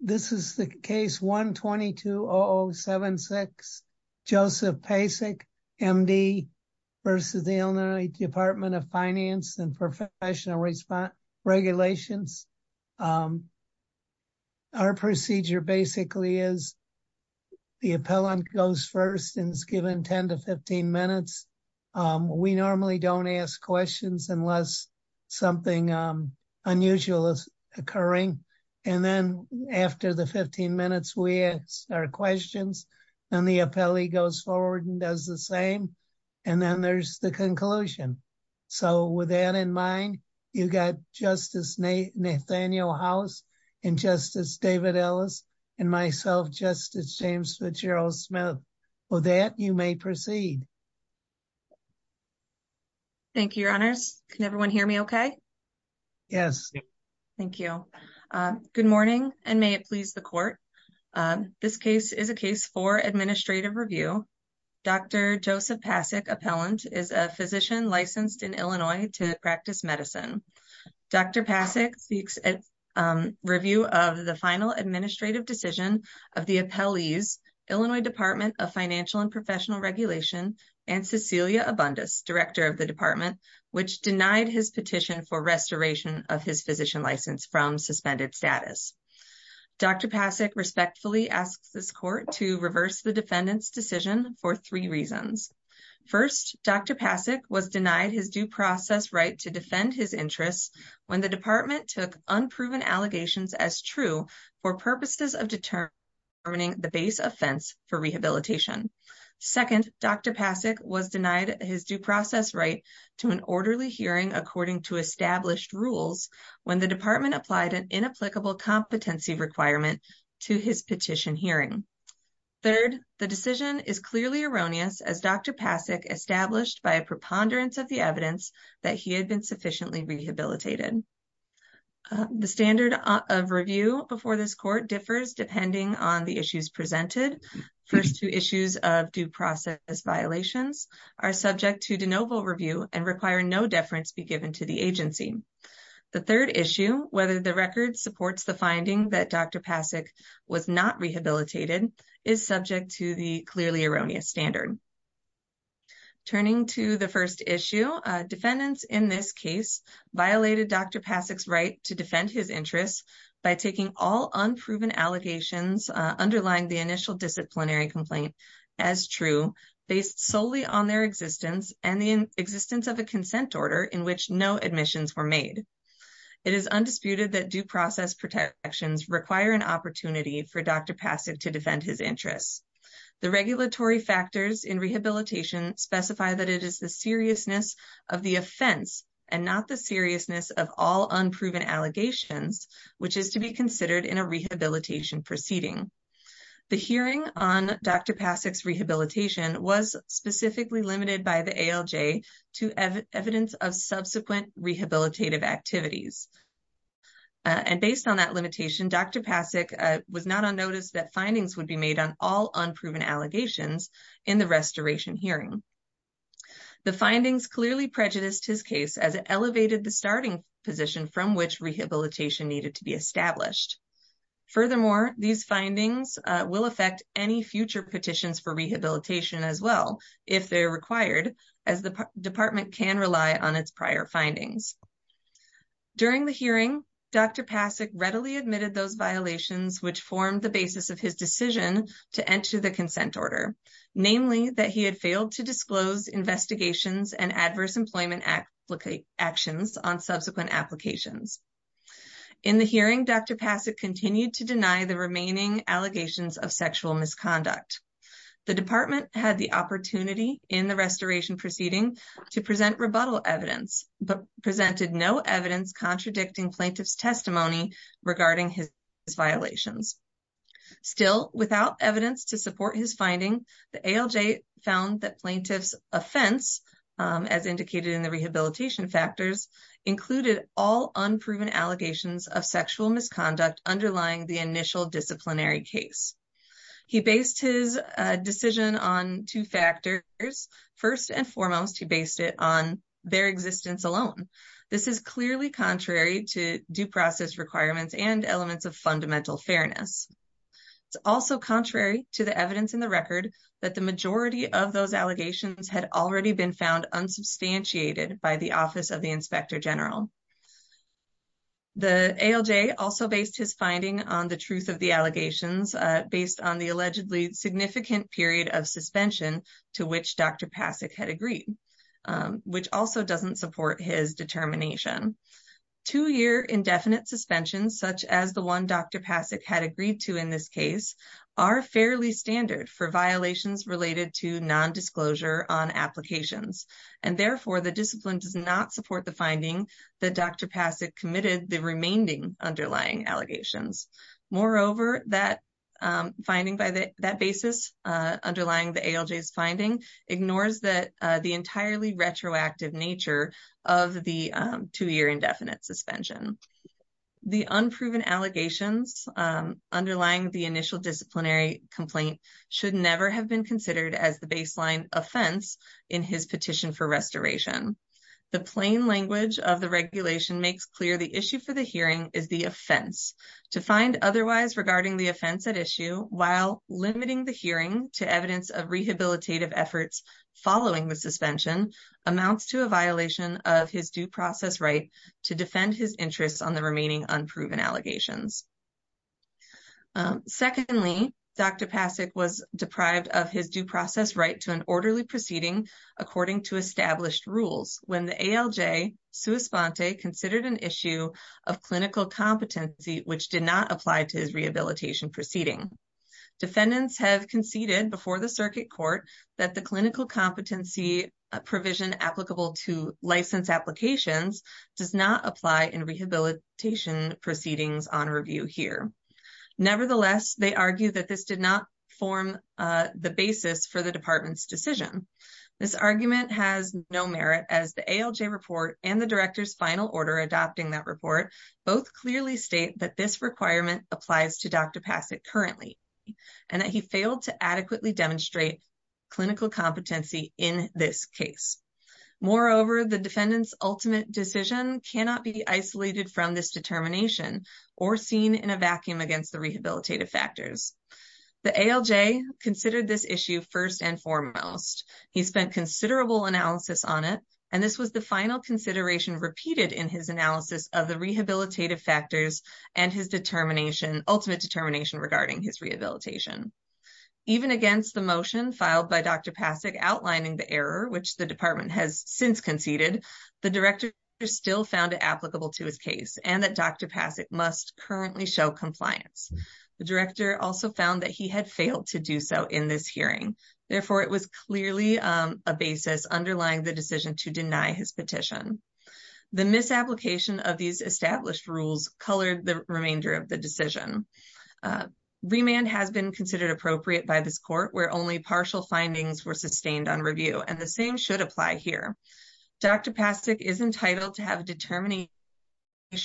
This is the case 120-0076, Joseph Pacek, MD, v. Illinois Department of Finance and Professional Regulations. Our procedure basically is the appellant goes first and is given 10 to 15 minutes. We normally don't ask questions unless something unusual is occurring and then after the 15 minutes we ask our questions and the appellee goes forward and does the same and then there's the conclusion. So with that in mind, you got Justice Nathaniel House and Justice David Ellis and myself, Justice James Fitzgerald Smith. With that, you may proceed. Thank you, Your Honors. Can everyone hear me okay? Yes. Thank you. Good morning and may it please the court. This case is a case for administrative review. Dr. Joseph Pacek, appellant, is a physician licensed in Illinois to practice medicine. Dr. Pacek speaks at review of the final administrative decision of the appellees, Illinois Department of Director of the Department, which denied his petition for restoration of his physician license from suspended status. Dr. Pacek respectfully asks this court to reverse the defendant's decision for three reasons. First, Dr. Pacek was denied his due process right to defend his interests when the department took unproven allegations as true for purposes of determining the base offense for rehabilitation. Second, Dr. Pacek was denied his due process right to an orderly hearing according to established rules when the department applied an inapplicable competency requirement to his petition hearing. Third, the decision is clearly erroneous as Dr. Pacek established by a preponderance of the evidence that he had been sufficiently rehabilitated. The standard of review before this court differs depending on the issues presented. First, two issues of due process violations are subject to de novo review and require no deference be given to the agency. The third issue, whether the record supports the finding that Dr. Pacek was not rehabilitated, is subject to the clearly erroneous standard. Turning to the first issue, defendants in this case violated Dr. Pacek's right to defend his interests by taking all unproven allegations underlying the initial disciplinary complaint as true based solely on their existence and the existence of a consent order in which no admissions were made. It is undisputed that due process protections require an opportunity for Dr. Pacek to defend his interests. The regulatory factors in rehabilitation specify that it is the seriousness of the offense and not the seriousness of all unproven allegations, which is to be considered in a rehabilitation proceeding. The hearing on Dr. Pacek's rehabilitation was specifically limited by the ALJ to evidence of subsequent rehabilitative activities. Based on that unproven allegations in the restoration hearing, the findings clearly prejudiced his case as it elevated the starting position from which rehabilitation needed to be established. Furthermore, these findings will affect any future petitions for rehabilitation as well if they're required as the department can rely on its prior findings. During the hearing, Dr. Pacek readily admitted those violations which formed the basis of his decision to enter the consent order, namely that he had failed to disclose investigations and adverse employment actions on subsequent applications. In the hearing, Dr. Pacek continued to deny the remaining allegations of sexual misconduct. The department had the opportunity in the restoration proceeding to present rebuttal evidence but presented no evidence to support his finding. The ALJ found that plaintiff's offense, as indicated in the rehabilitation factors, included all unproven allegations of sexual misconduct underlying the initial disciplinary case. He based his decision on two factors. First and foremost, he based it on their existence alone. This is clearly contrary to due process requirements and elements of the ALJ. It is also contrary to the evidence in the record that the majority of those allegations had already been found unsubstantiated by the Office of the Inspector General. The ALJ also based his finding on the truth of the allegations based on the allegedly significant period of suspension to which Dr. Pacek had agreed, which also doesn't support his determination. Two-year indefinite suspension, such as the one Dr. Pacek had agreed to in this case, are fairly standard for violations related to non-disclosure on applications. And therefore, the discipline does not support the finding that Dr. Pacek committed the remaining underlying allegations. Moreover, that finding by that basis, underlying the ALJ's finding, ignores the entirely retroactive nature of the two-year indefinite suspension. The unproven allegations underlying the initial disciplinary complaint should never have been considered as the baseline offense in his petition for restoration. The plain language of the regulation makes clear the issue for the hearing is the offense. To find otherwise regarding the offense at issue, while limiting the hearing to evidence of rehabilitative efforts following the suspension, amounts to a violation of his due process right to defend his interests on the remaining unproven allegations. Secondly, Dr. Pacek was deprived of his due process right to an orderly proceeding according to established rules when the ALJ, sua sponte, considered an issue of clinical competency which did not apply to his rehabilitation proceeding. Defendants have conceded before the circuit court that the clinical competency provision applicable to license applications does not apply in rehabilitation proceedings on review here. Nevertheless, they argue that this did not form the basis for the department's decision. This argument has no merit as the ALJ report and the director's final order adopting that report both clearly state that this requirement applies to Dr. Pacek currently and that he failed to adequately demonstrate clinical competency in this case. Moreover, the defendant's ultimate decision cannot be isolated from this determination or seen in a vacuum against the rehabilitative factors. The ALJ considered this issue first and foremost. He spent considerable analysis on it and this was the final consideration repeated in his analysis of the rehabilitative factors and his ultimate determination regarding his rehabilitation. Even against the motion filed by Dr. Pacek outlining the error which the department has since conceded, the director still found it applicable to his case and that Dr. Pacek must currently show compliance. The director also found that he had failed to do so in this hearing. Therefore, it was clearly a basis underlying the decision to deny his petition. The misapplication of these established rules colored the remainder of the decision. Remand has been considered appropriate by this court where only partial findings were sustained on review and the same should apply here. Dr. Pacek is entitled to have a determination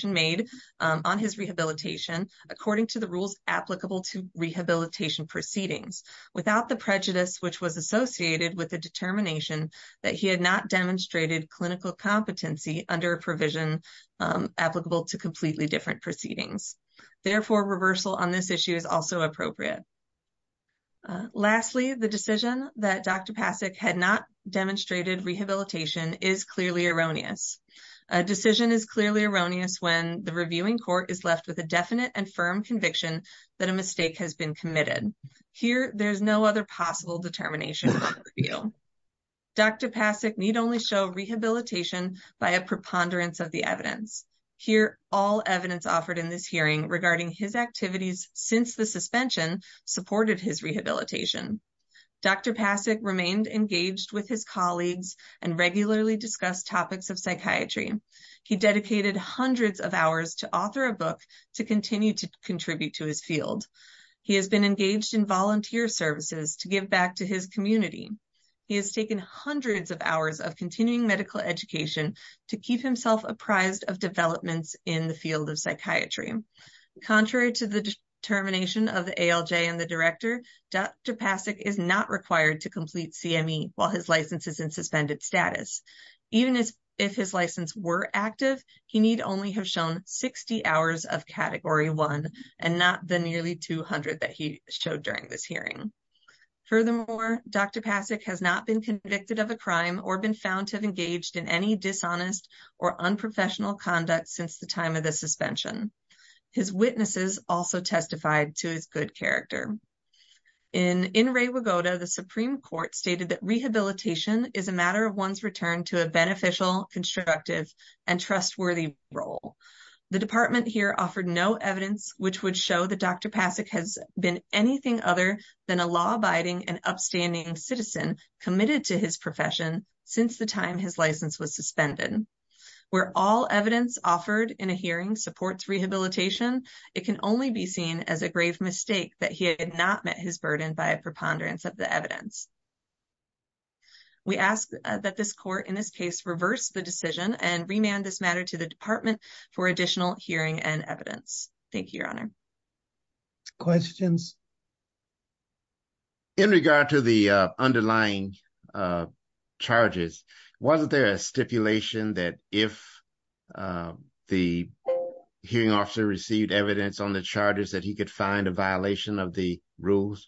made on his rehabilitation according to the rules applicable to rehabilitation proceedings without the prejudice which was associated with the determination that he had not demonstrated clinical competency under a provision applicable to completely different proceedings. Therefore, reversal on this issue is also appropriate. Lastly, the decision that Dr. Pacek had not demonstrated rehabilitation is clearly erroneous. A decision is clearly erroneous when the reviewing court is left with a definite and firm conviction that a mistake has been committed. Here, there is no other possible determination on review. Dr. Pacek need only show rehabilitation by a preponderance of the evidence. Here, all evidence offered in this hearing regarding his activities since the suspension supported his rehabilitation. Dr. Pacek remained engaged with his colleagues and regularly discussed topics of psychiatry. He dedicated hundreds of hours to author a book to continue to contribute to his field. He has been engaged in volunteer services to give back to his community. He has taken hundreds of hours of continuing medical education to keep himself apprised of developments in the field of psychiatry. Contrary to the determination of ALJ and the director, Dr. Pacek is not required to complete CME while his license is in suspended status. Even if his license were active, he need only have shown 60 hours of Category 1 and not the nearly 200 that he showed during this hearing. Furthermore, Dr. Pacek has not been convicted of a crime or been found to have engaged in any dishonest or unprofessional conduct since the time of the suspension. His witnesses also testified to his good character. In In Rewagoda, the Supreme Court stated that rehabilitation is a matter of one's return to a beneficial, constructive, and trustworthy role. The department here offered no evidence which would show that Dr. Pacek has been anything other than a law-abiding and upstanding citizen committed to his profession since the time his license was suspended. Where all evidence offered in a hearing supports rehabilitation, it can only be seen as a grave mistake that he had not met his burden by a preponderance of the evidence. We ask that this court in this case reverse the decision and remand this matter to the department for additional hearing and evidence. Thank you, Your Honor. Questions? In regard to the underlying charges, wasn't there a stipulation that if the hearing officer received evidence on the charges that he could find a violation of the rules?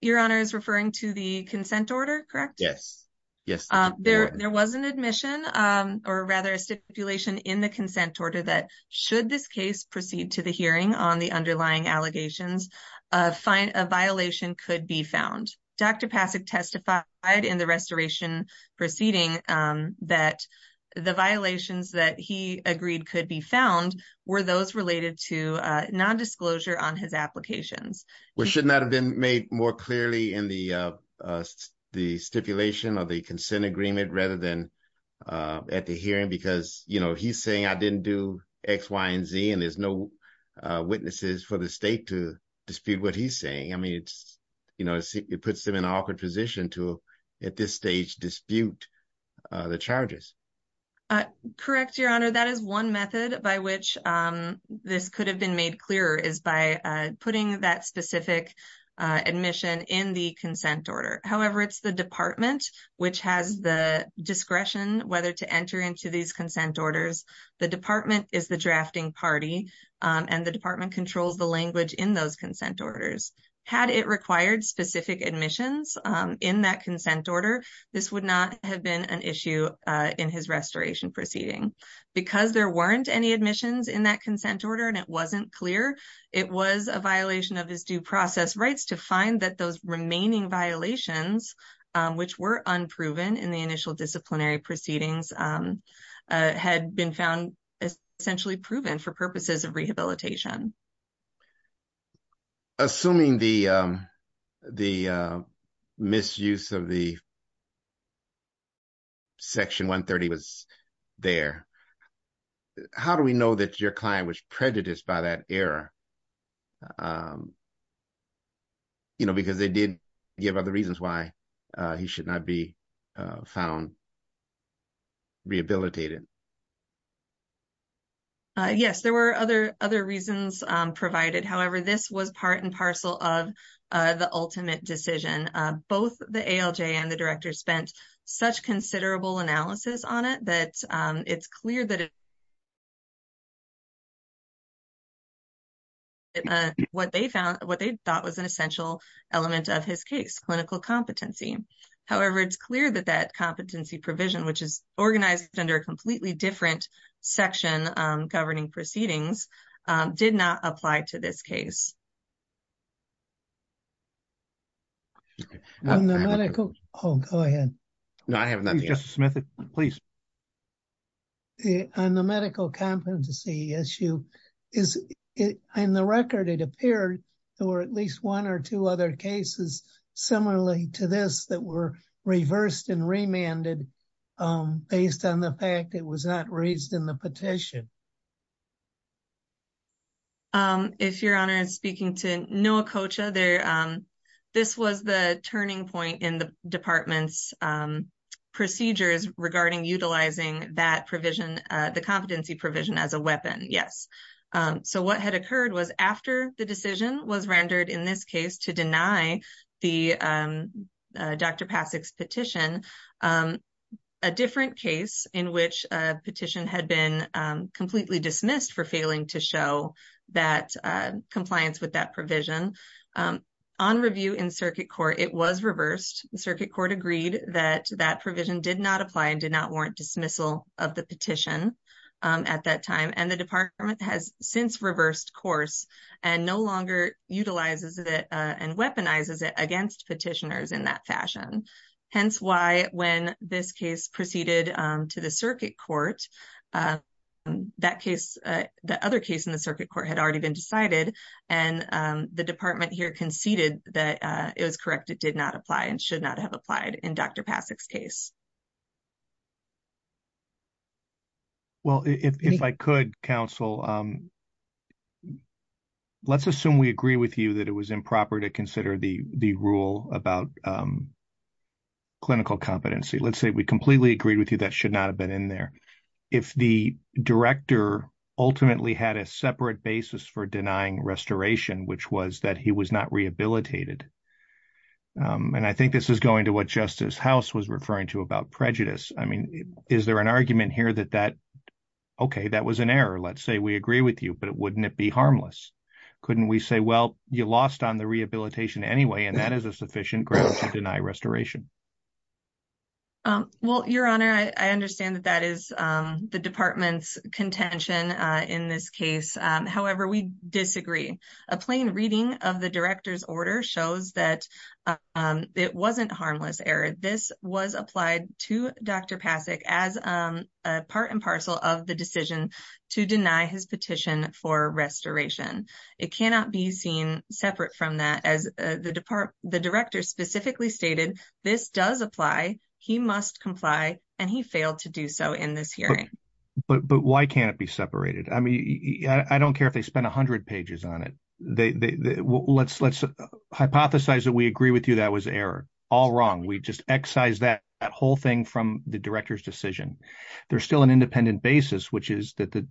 Your Honor is referring to the consent order, correct? Yes, yes. There was an admission or rather a stipulation in the consent order that should this case proceed to the hearing on the underlying allegations, a violation could be found. Dr. Pacek testified in the restoration proceeding that the violations that he agreed could be found were those related to non-disclosure on his applications. Which should not have been made more clearly in the stipulation or the consent agreement rather than at the hearing because you know he's saying I didn't do x y and z and there's no witnesses for the state to dispute what he's saying. I mean it's you know it puts him in an awkward position to at this stage dispute the charges. Correct, Your Honor. That is one method by which this could have been made clearer is by putting that specific admission in the consent order. However, it's the department which has the discretion whether to enter into these consent orders. The department is the drafting party and the department controls the language in those consent orders. Had it required specific admissions in that consent order, this would not have been an issue in his restoration proceeding. Because there weren't any admissions in that consent order and it wasn't clear, it was a violation of his due process rights to find that those remaining violations which were unproven in the initial disciplinary proceedings had been found essentially proven for purposes of rehabilitation. Assuming the the misuse of the section 130 was there, how do we know that your client was prejudiced by that error? You know because they did give other reasons why he should not be found rehabilitated. Yes, there were other other reasons provided. However, this was part and parcel of the ultimate decision. Both the ALJ and the director spent such considerable analysis on it that it's clear that what they found what they thought was an essential element of his case, clinical competency. However, it's clear that that competency provision which is organized under a complete different section governing proceedings did not apply to this case. On the medical competency issue, in the record it appeared there were at least one or two other raised in the petition. If your honor is speaking to Noah Kocha, this was the turning point in the department's procedures regarding utilizing that provision, the competency provision as a weapon. Yes. So what had occurred was after the decision was rendered in this case to deny the Dr. Pasek's petition, a different case in which a petition had been completely dismissed for failing to show that compliance with that provision. On review in circuit court it was reversed. The circuit court agreed that that provision did not apply and did not warrant dismissal of the petition at that time and the department has since reversed course and no longer utilizes it and weaponizes it against petitioners in that fashion. Hence why when this case proceeded to the circuit court that case the other case in the circuit court had already been decided and the department here conceded that it was correct it did not apply and should not have in Dr. Pasek's case. Well if I could counsel, let's assume we agree with you that it was improper to consider the rule about clinical competency. Let's say we completely agree with you that should not have been in there. If the director ultimately had a separate basis for what Justice House was referring to about prejudice, I mean is there an argument here that that okay that was an error. Let's say we agree with you but wouldn't it be harmless? Couldn't we say well you lost on the rehabilitation anyway and that is a sufficient ground to deny restoration? Well your honor I understand that that is the department's contention in this case. However we disagree. A plain reading of the director's order shows that it wasn't harmless error. This was applied to Dr. Pasek as a part and parcel of the decision to deny his petition for restoration. It cannot be seen separate from that as the department the director specifically stated this does apply he must comply and he failed to do so in this hearing. But why can't be separated? I mean I don't care if they spent a hundred pages on it. Let's hypothesize that we agree with you that was error. All wrong. We just excise that whole thing from the director's decision. There's still an independent basis which is that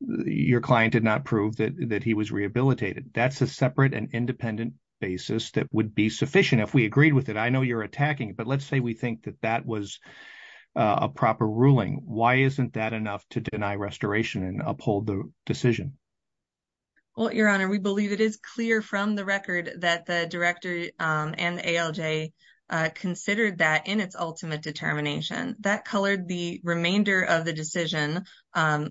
your client did not prove that that he was rehabilitated. That's a separate and independent basis that would be sufficient if we agreed with it. I know you're attacking but let's say we think that that was a proper ruling. Why isn't that enough to deny restoration and uphold the decision? Well your honor we believe it is clear from the record that the director and ALJ considered that in its ultimate determination. That colored the remainder of the decision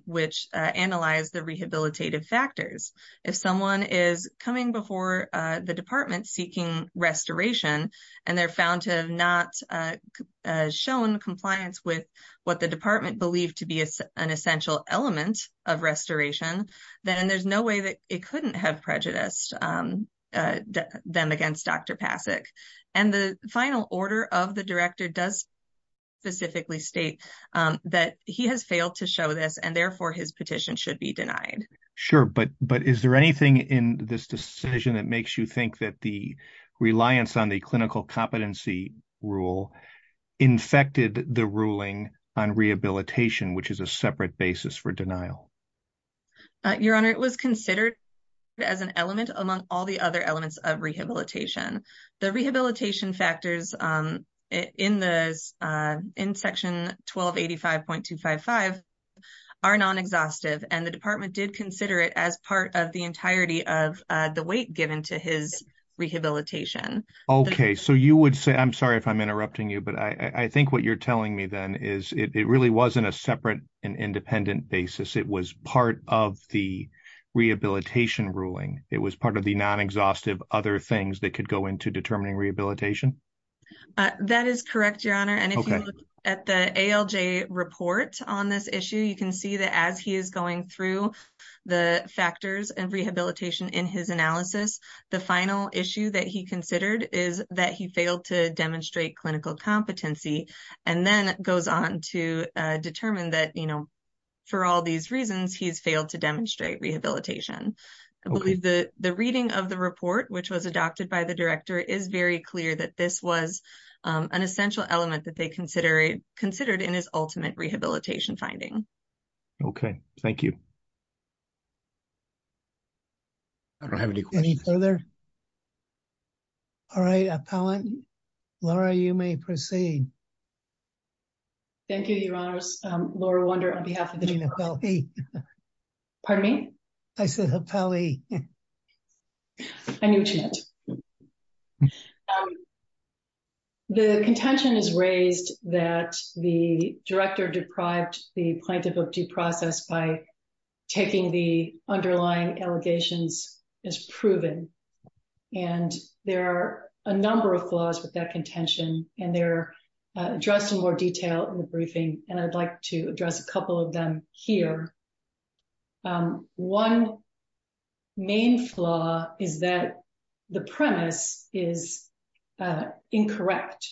which analyzed the rehabilitative factors. If someone is coming before the department seeking restoration and they're found to have not shown compliance with what the department believed to be an essential element of restoration then there's no way that it couldn't have prejudiced them against Dr. Pasek. And the final order of the director does specifically state that he has failed to show this and therefore his petition should be denied. Sure but but is there anything in this decision that makes you think that the reliance on the clinical competency rule infected the ruling on rehabilitation which is a separate basis for denial? Your honor it was considered as an element among all the other elements of rehabilitation. The rehabilitation factors in this in section 1285.255 are non-exhaustive and the department did consider it as part of the entirety of the weight given to his rehabilitation. Okay so you would say I'm sorry if I'm interrupting you but I think what you're telling me then is it really wasn't a separate and independent basis it was part of the rehabilitation ruling. It was part of the non-exhaustive other things that could go into determining rehabilitation. That is correct your honor and if you look at the ALJ report on this issue you can see that as he is going through the factors and rehabilitation in his analysis the final issue that he considered is that he failed to demonstrate clinical competency and then goes on to determine that you know for all these reasons he's failed to demonstrate rehabilitation. I believe the the reading of the that they consider considered in his ultimate rehabilitation finding. Okay thank you. I don't have any questions. Any further? All right appellant Laura you may proceed. Thank you your honors. Laura Wunder on behalf of the department. I said appellee. Pardon me? I said appellee. I knew what you meant. The contention is raised that the director deprived the plaintiff of due process by taking the underlying allegations as proven and there are a number of flaws with that contention and they're addressed in more detail in the briefing and I'd like to address a couple of them here. One main flaw is that the premise is incorrect.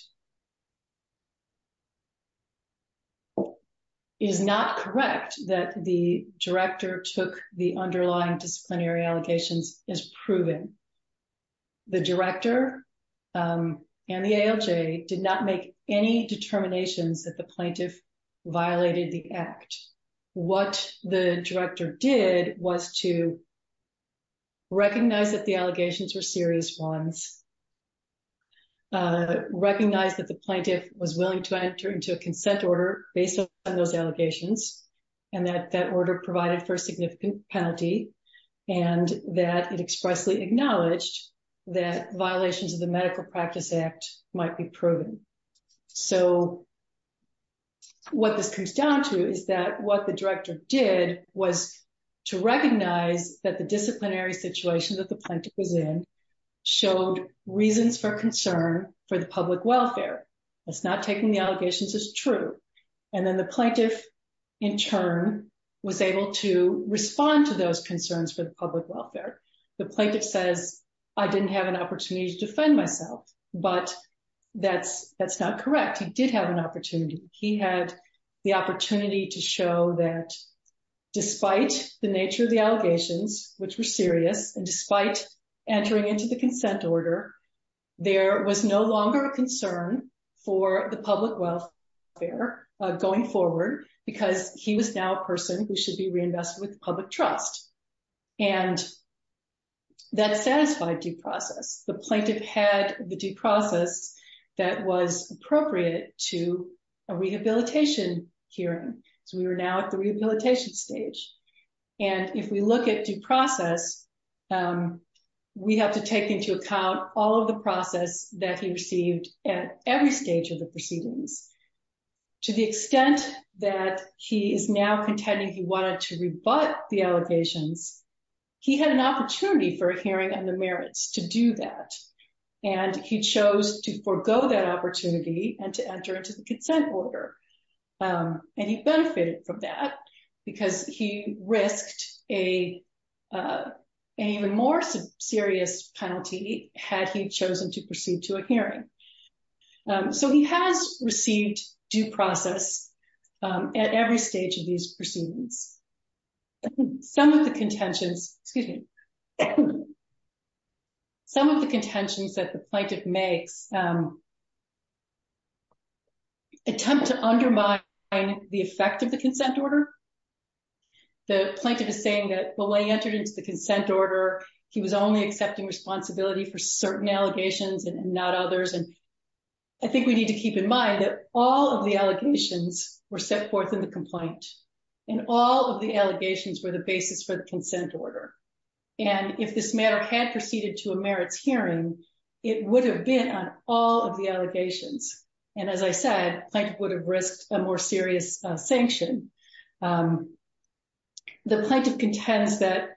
It is not correct that the director took the underlying disciplinary allegations as proven. The director and the ALJ did not make any determinations that the plaintiff violated the act. What the director did was to recognize that the allegations were serious ones, recognize that the plaintiff was willing to enter into a consent order based on those that violations of the medical practice act might be proven. So what this comes down to is that what the director did was to recognize that the disciplinary situation that the plaintiff was in showed reasons for concern for the public welfare. It's not taking the allegations as true and then the plaintiff in turn was able to respond to those I didn't have an opportunity to defend myself but that's not correct. He did have an opportunity. He had the opportunity to show that despite the nature of the allegations which were serious and despite entering into the consent order there was no longer a concern for the public welfare going forward because he was now a person who should be reinvested with public trust and that satisfied due process. The plaintiff had the due process that was appropriate to a rehabilitation hearing so we were now at the rehabilitation stage and if we look at due process we have to take into account all of the process that he received at every stage of the proceedings to the extent that he is now contending he wanted to rebut the allegations he had an opportunity for a hearing on the merits to do that and he chose to forego that opportunity and to enter into the consent order and he benefited from that because he risked an even more serious penalty had he has received due process at every stage of these proceedings. Some of the contentions, excuse me, some of the contentions that the plaintiff makes attempt to undermine the effect of the consent order. The plaintiff is saying that when he entered into the consent order he was only accepting responsibility for certain allegations and not others and I think we need to keep in mind that all of the allegations were set forth in the complaint and all of the allegations were the basis for the consent order and if this matter had proceeded to a merits hearing it would have been on all of the allegations and as I said plaintiff would have risked a more serious sanction. The plaintiff contends that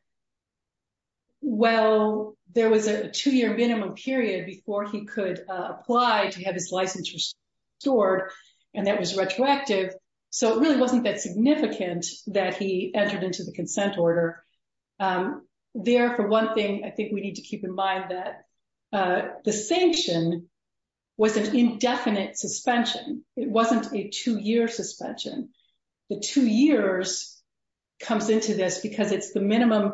well there was a two-year minimum period before he could apply to have his license restored and that was retroactive so it really wasn't that significant that he entered into the consent order. There for one thing I think we need to keep in mind that the sanction was an indefinite suspension. It wasn't a two-year suspension. The two years comes into this because it's the minimum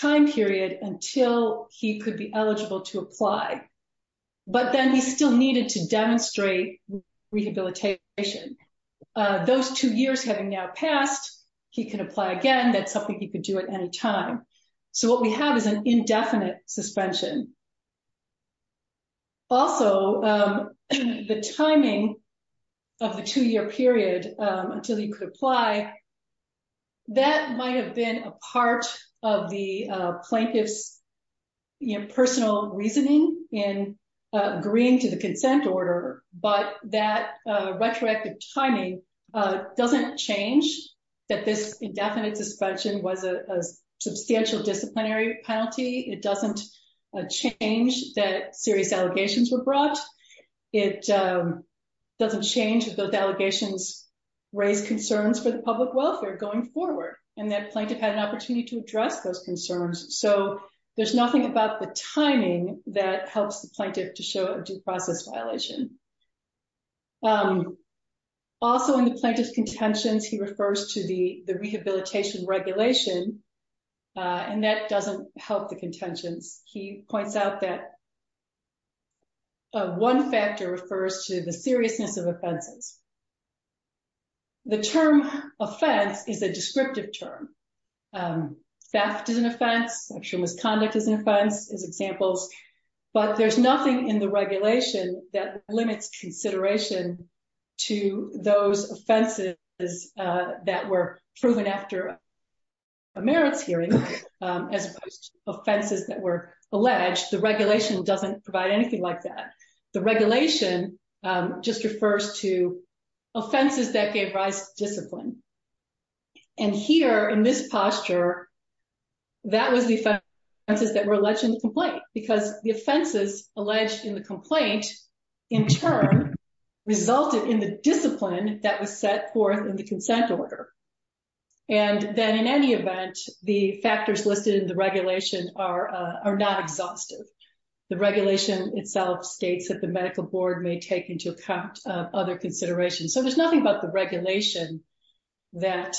time period until he could be eligible to apply but then he still needed to demonstrate rehabilitation. Those two years having now passed he can apply again that's something he could do at any time so what we have is an indefinite suspension. Also the timing of the two-year period until he could apply that might have been a part of the plaintiff's personal reasoning in agreeing to the consent order but that retroactive timing doesn't change that this indefinite suspension was a substantial disciplinary penalty. It doesn't change that serious allegations were brought. It doesn't change that those allegations raised concerns for the public welfare going forward and that plaintiff had an opportunity to address those concerns so there's nothing about the timing that helps the plaintiff to show a due process violation. Also in the plaintiff's contentions he refers to the the rehabilitation regulation and that doesn't help the contentions. He points out that one factor refers to the seriousness of offenses. The term offense is a descriptive term. Theft is an offense. I'm sure misconduct is an offense as examples but there's nothing in the regulation that limits consideration to those offenses that were proven after a merits hearing as opposed to offenses that were alleged. The regulation doesn't provide anything like that. The regulation just refers to offenses that gave rise to discipline and here in this posture that was the offenses that were alleged in the complaint because the consent order and then in any event the factors listed in the regulation are not exhaustive. The regulation itself states that the medical board may take into account other considerations so there's nothing about the regulation that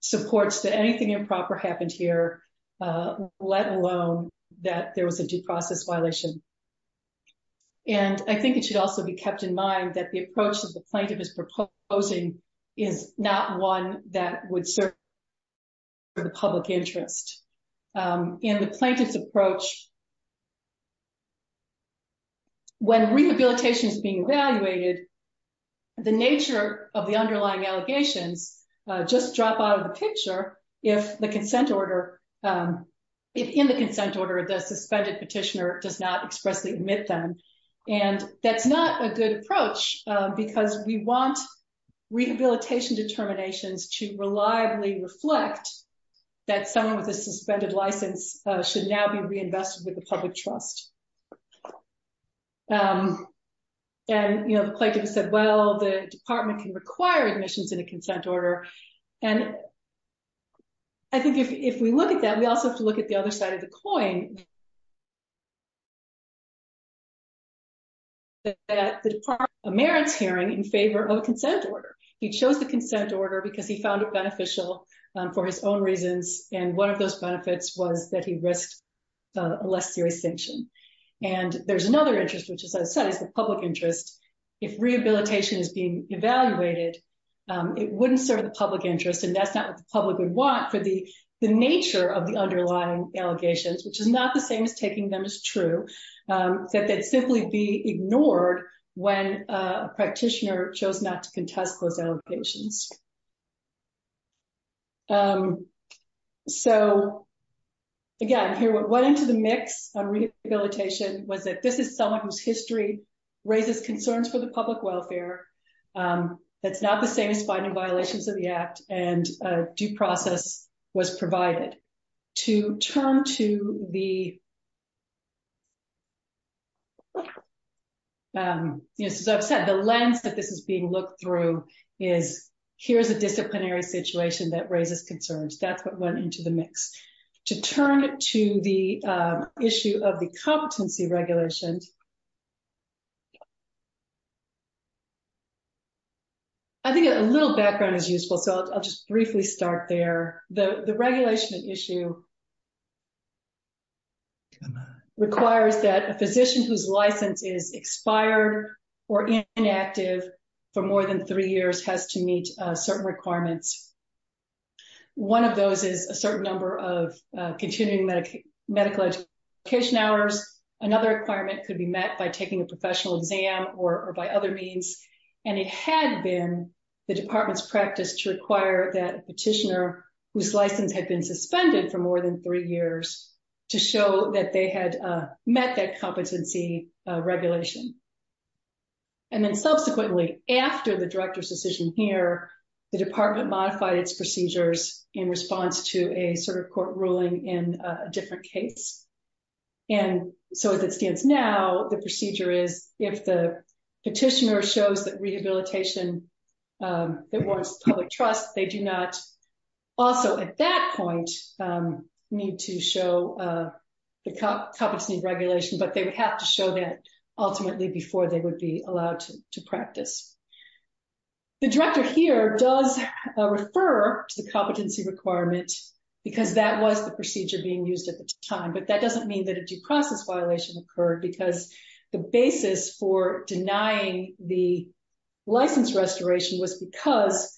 supports that anything improper happened here let alone that there was a due process violation and I think it should also be kept in mind that the approach that the plaintiff is proposing is not one that would serve the public interest. In the plaintiff's approach when rehabilitation is being evaluated the nature of the underlying allegations just drop out of the picture if the consent order if in the consent order the suspended petitioner does not expressly admit them and that's not a good approach because we want rehabilitation determinations to reliably reflect that someone with a suspended license should now be reinvested with the public trust and you know the plaintiff said well the department can require admissions in a consent order and I think if we look at that we also have to look at the other side of the coin that the department merits hearing in favor of a consent order he chose the consent order because he found it beneficial for his own reasons and one of those benefits was that he risked a less serious sanction and there's another interest which as I said is the public interest if rehabilitation is being evaluated it wouldn't serve the public interest and that's not what the public would want for the the nature of the underlying allegations which is not the same as taking them as true that they'd simply be ignored when a practitioner chose not to contest those allocations. So again here what went into the mix on rehabilitation was that this is someone whose history raises concerns for the public welfare that's not the same as finding violations of the act and a due process was provided. To turn to the you know as I've said the lens that this is being looked through is here's a disciplinary situation that raises concerns that's what went into the mix. To turn to the issue of the competency regulations and I think a little background is useful so I'll just briefly start there. The regulation issue requires that a physician whose license is expired or inactive for more than three years has to meet certain requirements. One of those is a certain number of continuing medical education hours. Another requirement could be met by taking a professional exam or by other means and it had been the department's practice to require that a petitioner whose license had been suspended for more than three years to show that they had met that competency regulation. And then subsequently after the director's decision here the department modified its procedures in response to a sort of court ruling in a different case. And so as it stands now the procedure is if the petitioner shows that rehabilitation that warrants public trust they do not also at that point need to show the competency regulation but they would have to show that ultimately before they would be the procedure being used at the time but that doesn't mean that a due process violation occurred because the basis for denying the license restoration was because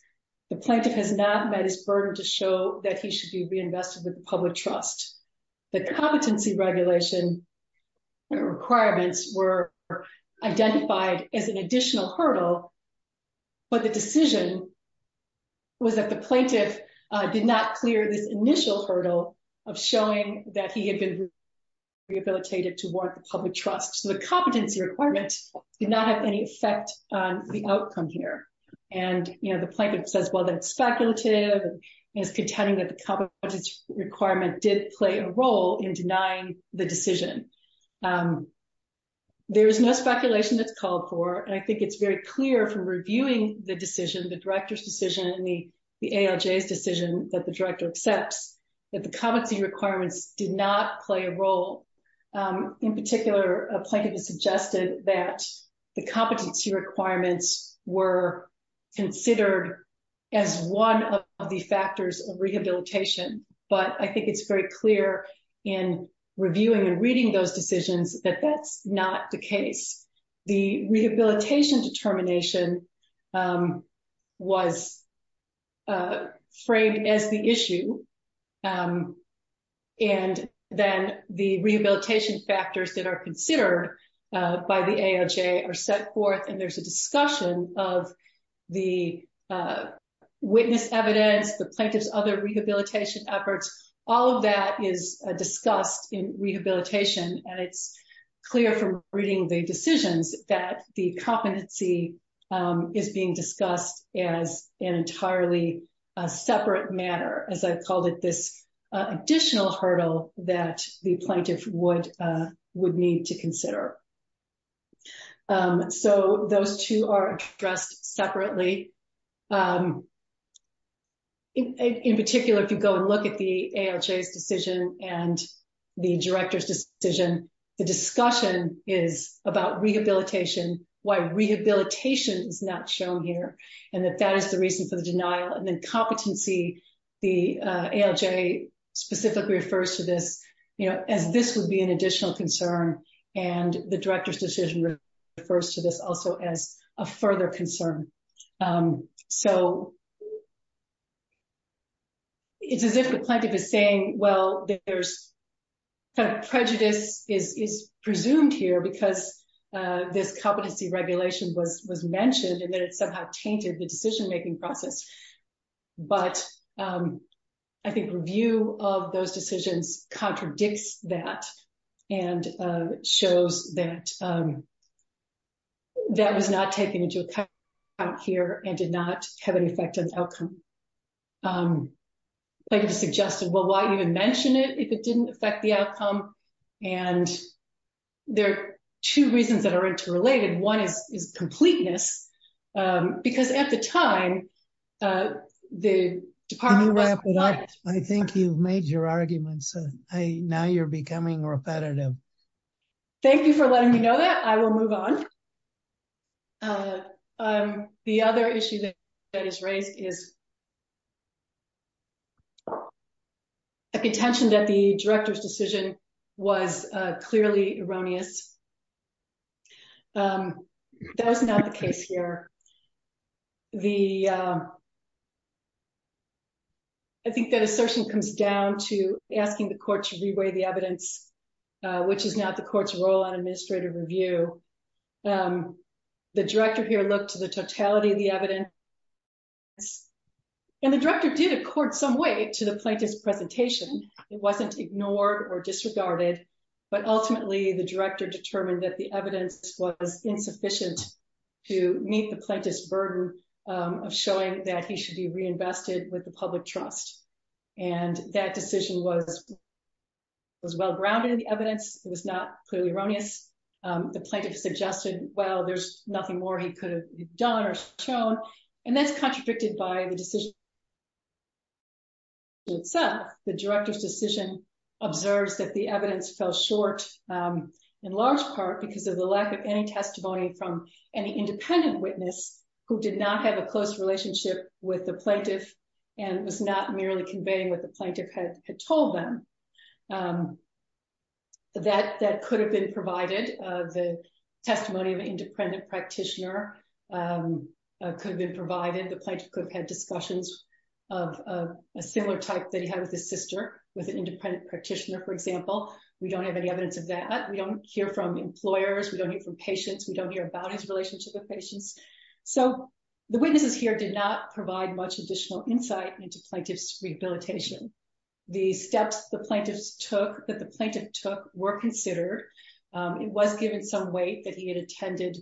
the plaintiff has not met his burden to show that he should be reinvested with the public trust. The competency regulation requirements were identified as an additional hurdle but the decision was that the plaintiff did not clear this initial hurdle of showing that he had been rehabilitated to warrant the public trust. So the competency requirement did not have any effect on the outcome here and you know the plaintiff says well that it's speculative and is contending that the competence requirement did play a role in denying the decision. There is no speculation that's called for and I think it's very clear from reviewing the decision the director's decision and the ALJ's decision that the director accepts that the competency requirements did not play a role. In particular a plaintiff has suggested that the competency requirements were considered as one of the factors of rehabilitation but I think it's very clear in reviewing and reading those decisions that that's not the case. The rehabilitation determination was framed as the issue and then the rehabilitation factors that are considered by the ALJ are set forth and there's a discussion of the witness evidence, the plaintiff's other and it's clear from reading the decisions that the competency is being discussed as an entirely separate matter as I called it this additional hurdle that the plaintiff would need to consider. So those two are addressed separately. In particular if you go and look at the ALJ's decision and the director's decision the discussion is about rehabilitation why rehabilitation is not shown here and that that is the reason for the denial and then competency the ALJ specifically refers to this you know as this would be an additional concern and the director's decision refers to this also as a further concern. So it's as if the plaintiff is saying well there's kind of prejudice is presumed here because this competency regulation was mentioned and then it somehow tainted the decision making process but I think review of those decisions contradicts that and shows that that was not taken into account here and did not have an effective outcome. Plaintiff suggested well why even mention it if it didn't affect the outcome and there are two reasons that are interrelated. One is completeness because at the time the department... Can you wrap it up? I think you've made your arguments. Now you're becoming repetitive. Thank you for letting me know that. I will move on. The other issue that is raised is a contention that the director's decision was clearly erroneous. That is not the case here. The... I think that assertion comes down to asking the court to re-weigh the evidence which is not the court's role on administrative review. The director here looked to the totality of the evidence and the director did accord some weight to the plaintiff's presentation. It wasn't ignored or disregarded but ultimately the director determined that the evidence was insufficient to meet the plaintiff's burden of showing that he should be reinvested with the public trust and that decision was well grounded in the evidence. It was not clearly erroneous. The plaintiff suggested well there's nothing more he could have done or shown and that's contradicted by the decision itself. The director's decision observes that the evidence from any independent witness who did not have a close relationship with the plaintiff and was not merely conveying what the plaintiff had told them that could have been provided. The testimony of an independent practitioner could have been provided. The plaintiff could have had discussions of a similar type that he had with his sister with an independent practitioner for example. We don't have any evidence of that. We hear from employers. We don't hear from patients. We don't hear about his relationship with patients. So the witnesses here did not provide much additional insight into plaintiff's rehabilitation. The steps the plaintiffs took that the plaintiff took were considered. It was given some weight that he had attended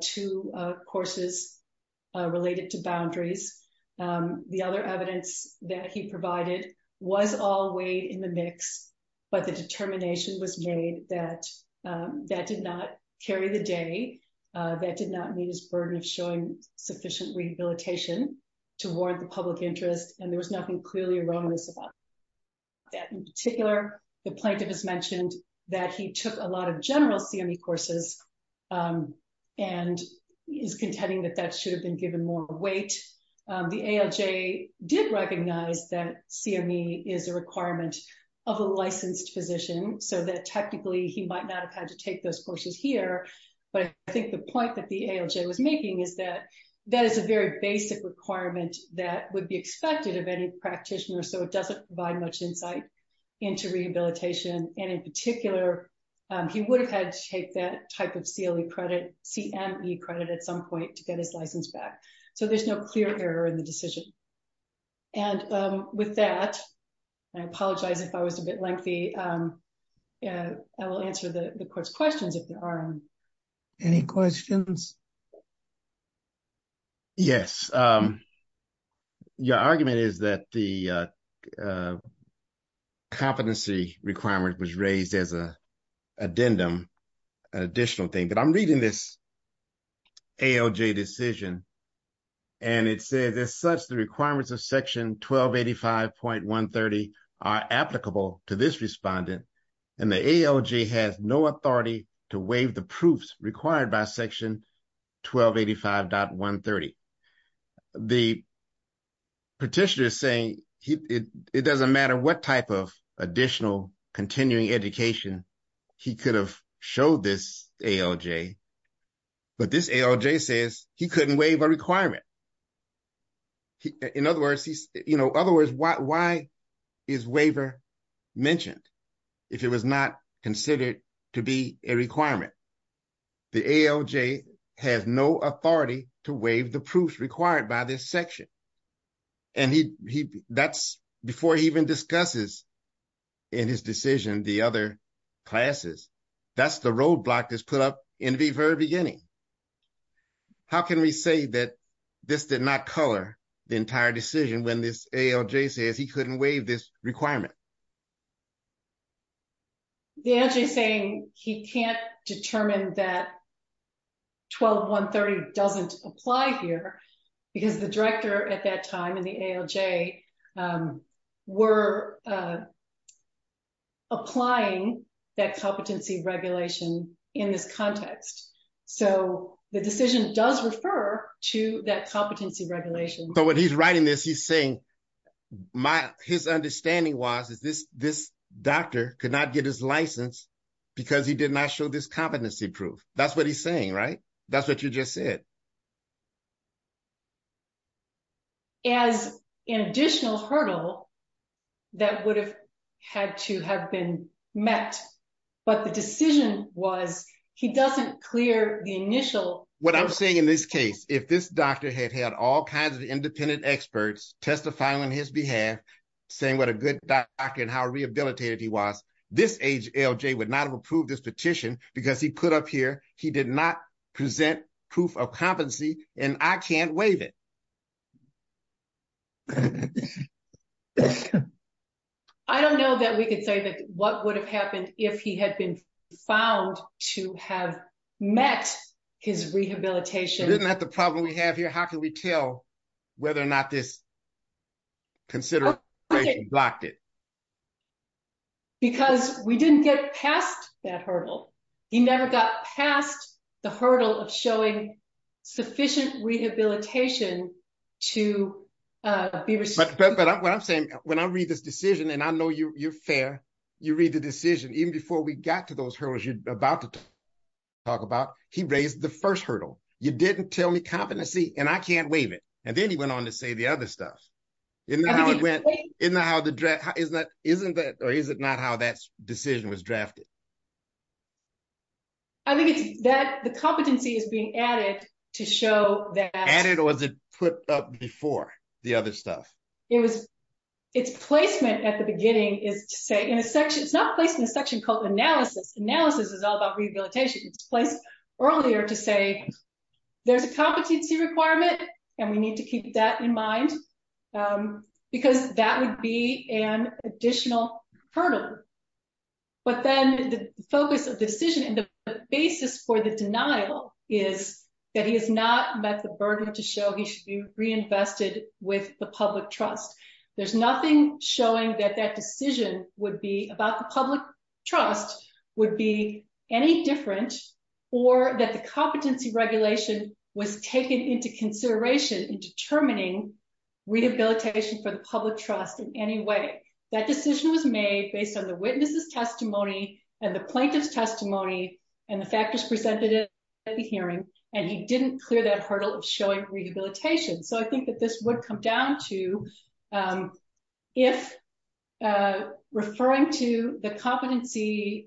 two courses related to boundaries. The other evidence that he provided was all weighed in the mix but the determination was made that that did not carry the day. That did not meet his burden of showing sufficient rehabilitation toward the public interest and there was nothing clearly erroneous about that. In particular the plaintiff has mentioned that he took a lot of general CME courses and is contending that that should have been given more weight. The ALJ did recognize that CME is a requirement of a licensed physician so that technically he might not have had to take those courses here but I think the point that the ALJ was making is that that is a very basic requirement that would be expected of any practitioner so it doesn't provide much insight into rehabilitation and in particular he would have had to take that type of CLE credit CME credit at some point to get his license back so there's no clear error in the decision. And with that I apologize if I was a bit lengthy. I will answer the court's questions if there are. Any questions? Yes. Your argument is that the competency requirement was raised as a addendum additional thing but I'm reading this ALJ decision and it says as such the requirements of section 1285.130 are applicable to this respondent and the ALJ has no authority to waive the proofs required by section 1285.130. The petitioner is saying it doesn't matter what type of additional continuing education he could have showed this ALJ but this ALJ says he couldn't waive a requirement. In other words, why is waiver mentioned if it was not considered to be a requirement? The ALJ has no authority to waive the proofs required by this section and that's before he even discusses in his decision the other classes. That's the roadblock that's put up in the very beginning. How can we say that this did not color the entire decision when this ALJ says he couldn't waive this requirement? The ALJ is saying he can't determine that 12.130 doesn't apply here because the director at that time and the ALJ were applying that competency regulation in this context. So the decision does refer to that competency regulation. So when he's writing this he's saying his understanding was is this doctor could not get his license because he did not show this competency proof. That's what he's saying, right? That's what you just said. As an additional hurdle that would have had to have been met but the decision was he doesn't clear the initial... What I'm saying in this case, if this doctor had had all kinds of independent experts testifying on his behalf saying what a good doctor and how rehabilitated he was, this ALJ would not have approved this petition because he put up here he did not present proof of competency and I can't waive it. I don't know that we could say that what would have happened if he had been found to have met his rehabilitation... Isn't that the problem we have here? How can we tell whether or not this consideration blocked it? Because we didn't get past that hurdle. He never got past the hurdle of showing sufficient rehabilitation to be... But what I'm saying when I read this decision and I know you're fair, you read the decision even before we got to those first hurdle. You didn't tell me competency and I can't waive it. And then he went on to say the other stuff. Isn't that how that decision was drafted? I think that the competency is being added to show that... Added or was it put up before the other stuff? Its placement at the beginning is to say in a section... It's not placed in a section called analysis. Analysis is all about rehabilitation. It's placed earlier to say there's a competency requirement and we need to keep that in mind because that would be an additional hurdle. But then the focus of decision and the basis for the denial is that he has not met the burden to show he should be reinvested with the public trust. There's nothing showing that that decision would be about the public trust would be any different or that the competency regulation was taken into consideration in determining rehabilitation for the public trust in any way. That decision was made based on the witness's testimony and the plaintiff's testimony and the factors presented at the hearing and he didn't clear that hurdle of showing rehabilitation. So I think that this would come to... If referring to the competency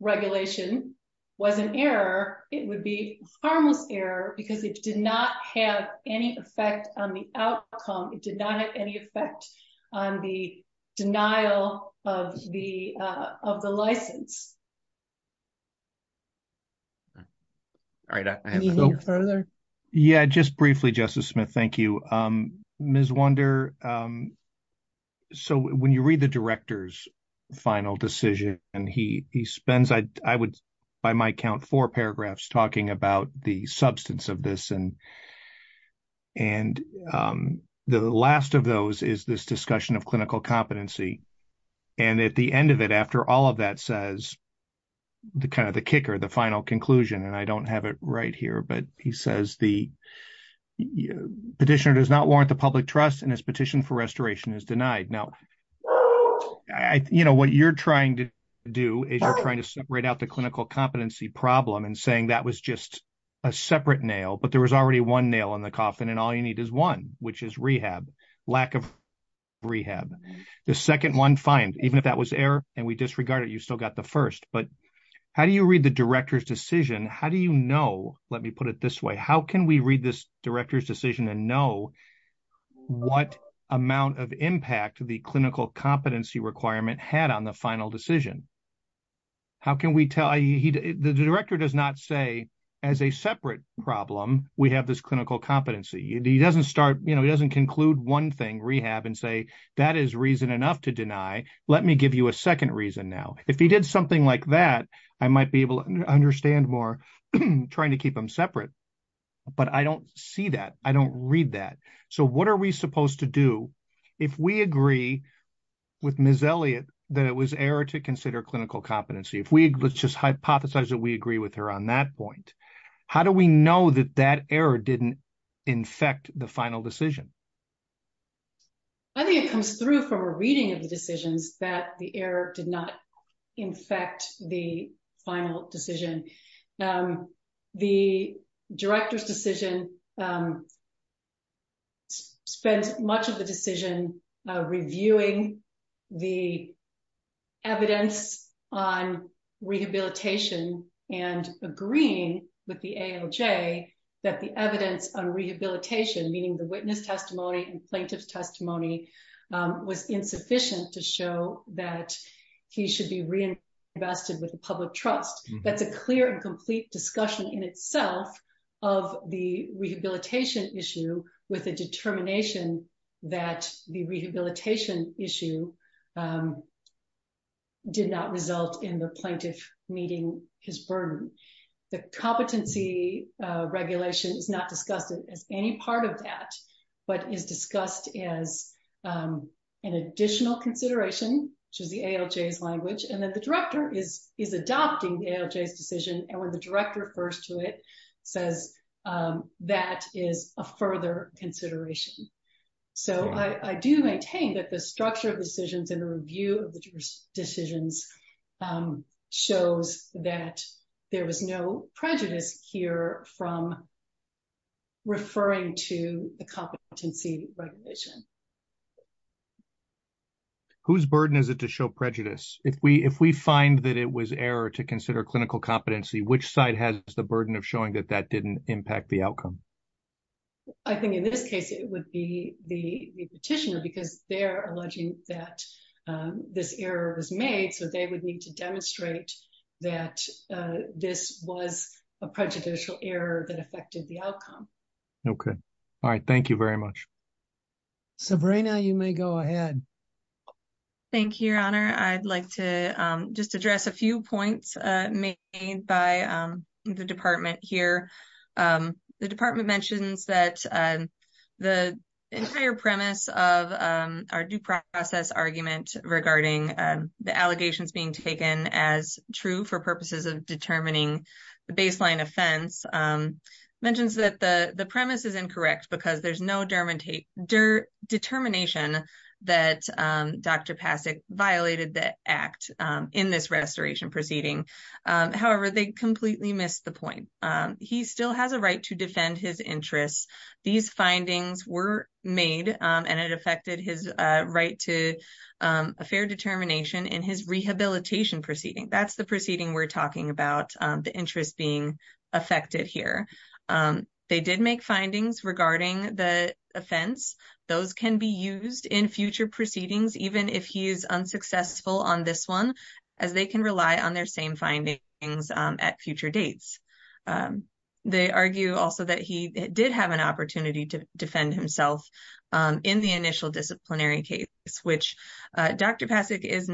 regulation was an error, it would be a harmless error because it did not have any effect on the outcome. It did not have any effect on the denial of the license. All right. I have no further... Yeah, just briefly, Justice Smith. Thank you. Ms. Wunder, so when you read the director's final decision and he spends, I would by my count, four paragraphs talking about the substance of this and the last of those is this discussion of clinical competency and at the end of it, after all of that says the kind of the kicker, the final conclusion, and I don't have it right here, but he says the petitioner does not warrant the public trust and his petition for restoration is denied. Now, what you're trying to do is you're trying to separate out the clinical competency problem and saying that was just a separate nail, but there was already one nail in the coffin and all you need is one, which is rehab, lack of rehab. The second one, fine, even if that was error and we disregard it, you still got the first, but how do you read the director's decision? How do you know, let me put it this way, how can we read this director's decision and know what amount of impact the clinical competency requirement had on the final decision? The director does not say as a separate problem, we have this clinical competency. He doesn't conclude one thing, rehab, and say that is reason enough to deny. Let me give you a second reason now. If he did something like that, I might be able to understand more trying to keep them separate, but I don't see that. I don't read that. So what are we supposed to do if we agree with Ms. Elliott that it was error to consider clinical competency? Let's just hypothesize that we agree with her on that point. How do we know that that from a reading of the decisions that the error did not infect the final decision? The director's decision spends much of the decision reviewing the evidence on rehabilitation and agreeing with the AOJ that the evidence on rehabilitation, meaning the witness testimony and plaintiff's testimony, was insufficient to show that he should be reinvested with the public trust. That's a clear and complete discussion in itself of the rehabilitation issue with a determination that the rehabilitation issue did not result in the plaintiff meeting his burden. The competency regulation is not discussed as any part of that, but is discussed as an additional consideration, which is the AOJ's language, and then the director is adopting the AOJ's decision, and when the director refers to it, says that is a further consideration. So I do maintain that the structure of decisions and the review of the decisions shows that there was no prejudice here from referring to the competency regulation. Whose burden is it to show prejudice? If we find that it was error to consider clinical competency, which side has the burden of showing that that didn't impact the outcome? I think in this case, it would be the petitioner because they're alleging that this error was made, so they would need to demonstrate that this was a prejudicial error that affected the outcome. Okay. All right. Thank you very much. Sabrina, you may go ahead. Thank you, Your Honor. I'd like to just address a few points made by the department here. The department mentions that the entire premise of our due process argument regarding the allegations being taken as true for purposes of determining the baseline offense, mentions that the premise is incorrect because there's no determination that Dr. Pasek violated the act in this restoration proceeding. However, they completely missed the point. He still has a right to defend his interests. These findings were made, and it affected his right to a fair determination in his rehabilitation proceeding. That's the proceeding we're talking about, the interest being affected here. They did make findings regarding the offense. Those can be used in future proceedings, even if he is unsuccessful on this one, as they can rely on their same findings at future dates. They argue also that he did have an opportunity to defend himself in the initial disciplinary case, which Dr. Pasek is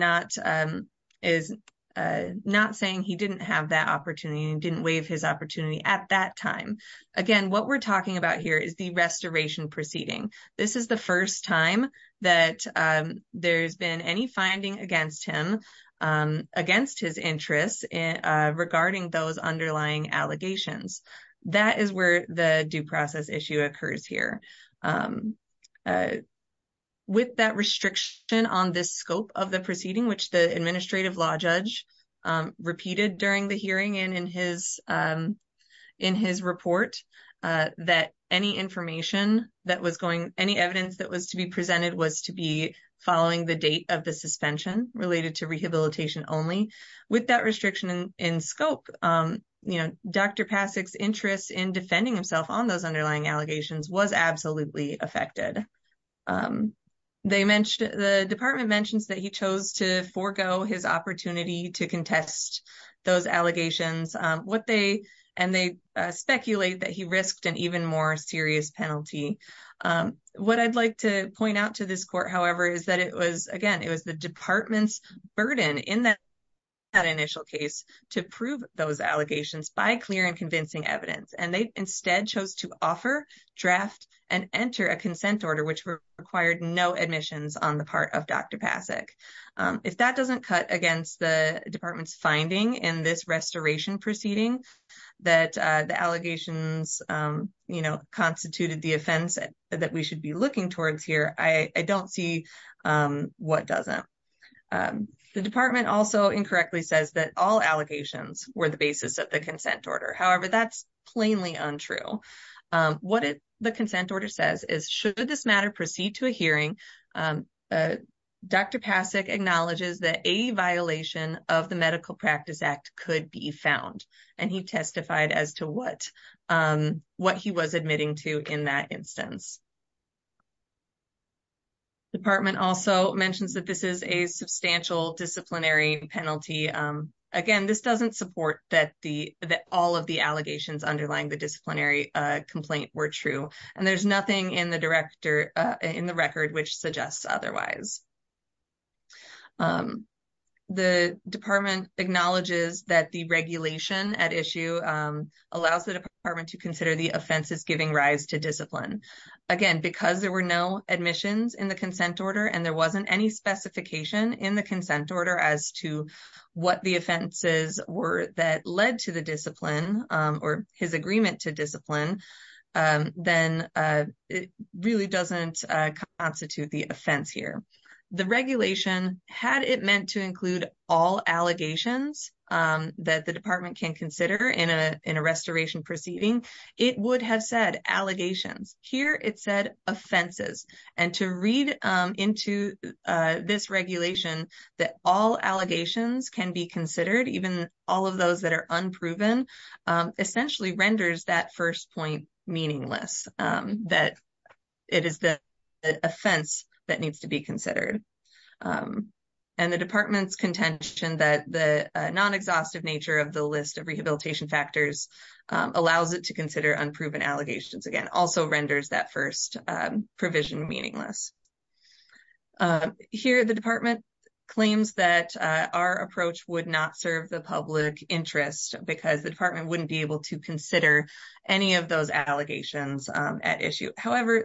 not saying he didn't have that opportunity and didn't waive his opportunity at that time. Again, what we're talking about here is the restoration proceeding. This is the first time that there's been any finding against him, against his interests regarding those underlying allegations. That is where the due process issue occurs here. With that restriction on this scope of the proceeding, which the administrative law judge repeated during the hearing and in his report, that any information that was going, any evidence that was to be presented was to be following the date of the suspension related to rehabilitation only. With that restriction in scope, Dr. Pasek's interest in defending himself on those underlying allegations was absolutely affected. The department mentions that he chose to forego his opportunity to contest those allegations. They speculate that he risked an even more serious penalty. What I'd like to point out to this court, however, is that it was, again, it was the department's burden in that initial case to prove those allegations by clear and convincing evidence. They instead chose to offer, draft, and enter a consent order, which required no admissions on part of Dr. Pasek. If that doesn't cut against the department's finding in this restoration proceeding, that the allegations, you know, constituted the offense that we should be looking towards here, I don't see what doesn't. The department also incorrectly says that all allegations were the basis of the consent order. However, that's plainly untrue. What the consent order says is, should this matter proceed to a hearing, Dr. Pasek acknowledges that a violation of the Medical Practice Act could be found, and he testified as to what he was admitting to in that instance. The department also mentions that this is a substantial disciplinary penalty. Again, this doesn't support that all of the allegations underlying the disciplinary complaint were true, and there's nothing in the record which suggests otherwise. The department acknowledges that the regulation at issue allows the department to consider the offenses giving rise to discipline. Again, because there were no admissions in the consent order and there wasn't any specification in the consent order as to what the offenses were that led to the discipline, or his agreement to discipline, then it really doesn't constitute the offense here. The regulation, had it meant to include all allegations that the department can consider in a restoration proceeding, it would have said allegations. Here it said offenses, and to read into this regulation that all allegations can be considered, even all of those that are unproven, essentially renders that first point meaningless, that it is the offense that needs to be considered. The department's contention that the non-exhaustive nature of the list of rehabilitation factors allows it to consider unproven allegations, again, also renders that first provision meaningless. Here the department claims that our approach would not serve the public interest because the department wouldn't be able to consider any of those allegations at issue. However,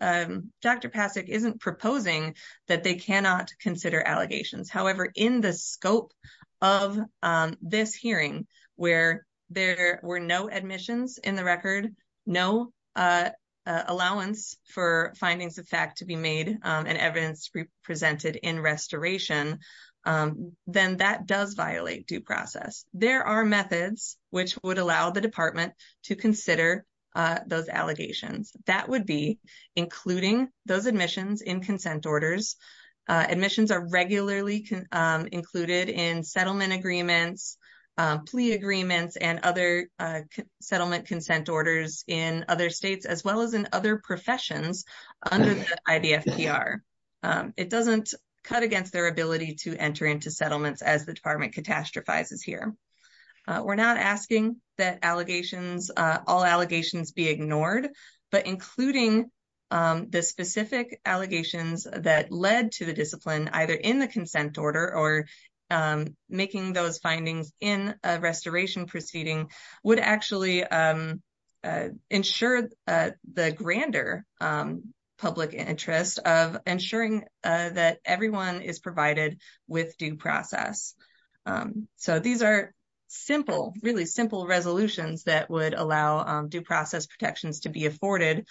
Dr. Pasek isn't proposing that they cannot consider allegations. However, in the scope of this hearing, where there were no admissions in the record, no allowance for findings of fact to be made and evidence presented in restoration, then that does violate due process. There are methods which would allow the department to consider those allegations. That would be settlement agreements, plea agreements, and other settlement consent orders in other states, as well as in other professions under the IDFPR. It doesn't cut against their ability to enter into settlements as the department catastrophizes here. We're not asking that all allegations be ignored, but including the specific allegations that led to the discipline, either in the consent order or making those findings in a restoration proceeding, would actually ensure the grander public interest of ensuring that everyone is provided with due process. These are simple, really simple resolutions that would allow due process protections to be afforded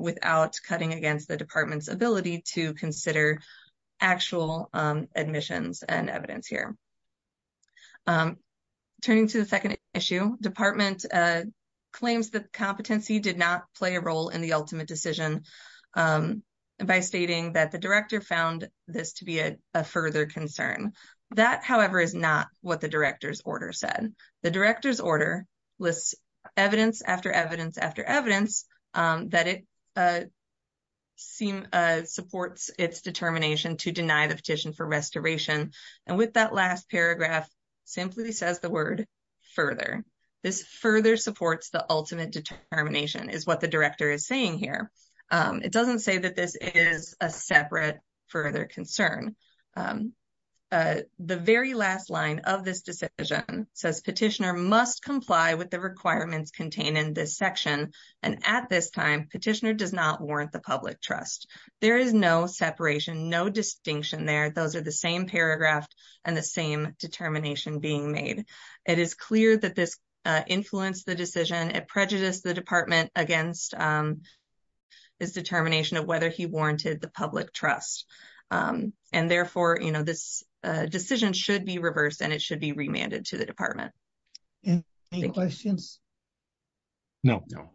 without cutting against the department's ability to consider actual admissions and evidence here. Turning to the second issue, department claims that competency did not play a role in the ultimate decision by stating that the director found this to be a further concern. That, however, is not what the director's order said. The director's order lists evidence after evidence after evidence that it supports its determination to deny the petition for restoration, and with that last paragraph, simply says the word further. This further supports the ultimate determination is what the director is saying here. It doesn't say that this is a separate further concern. The very last line of this decision says petitioner must comply with the requirements contained in this section, and at this time, petitioner does not warrant the public trust. There is no separation, no distinction there. Those are the same paragraph and the same determination being made. It is clear that this influenced the decision. It prejudiced the department against his determination of whether he warranted the public trust, and therefore, you know, this decision should be reversed and it should be remanded to the department. Any questions? No, no.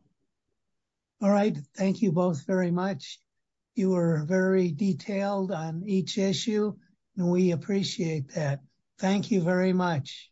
All right. Thank you both very much. You were very detailed on each issue, and we appreciate that. Thank you very much.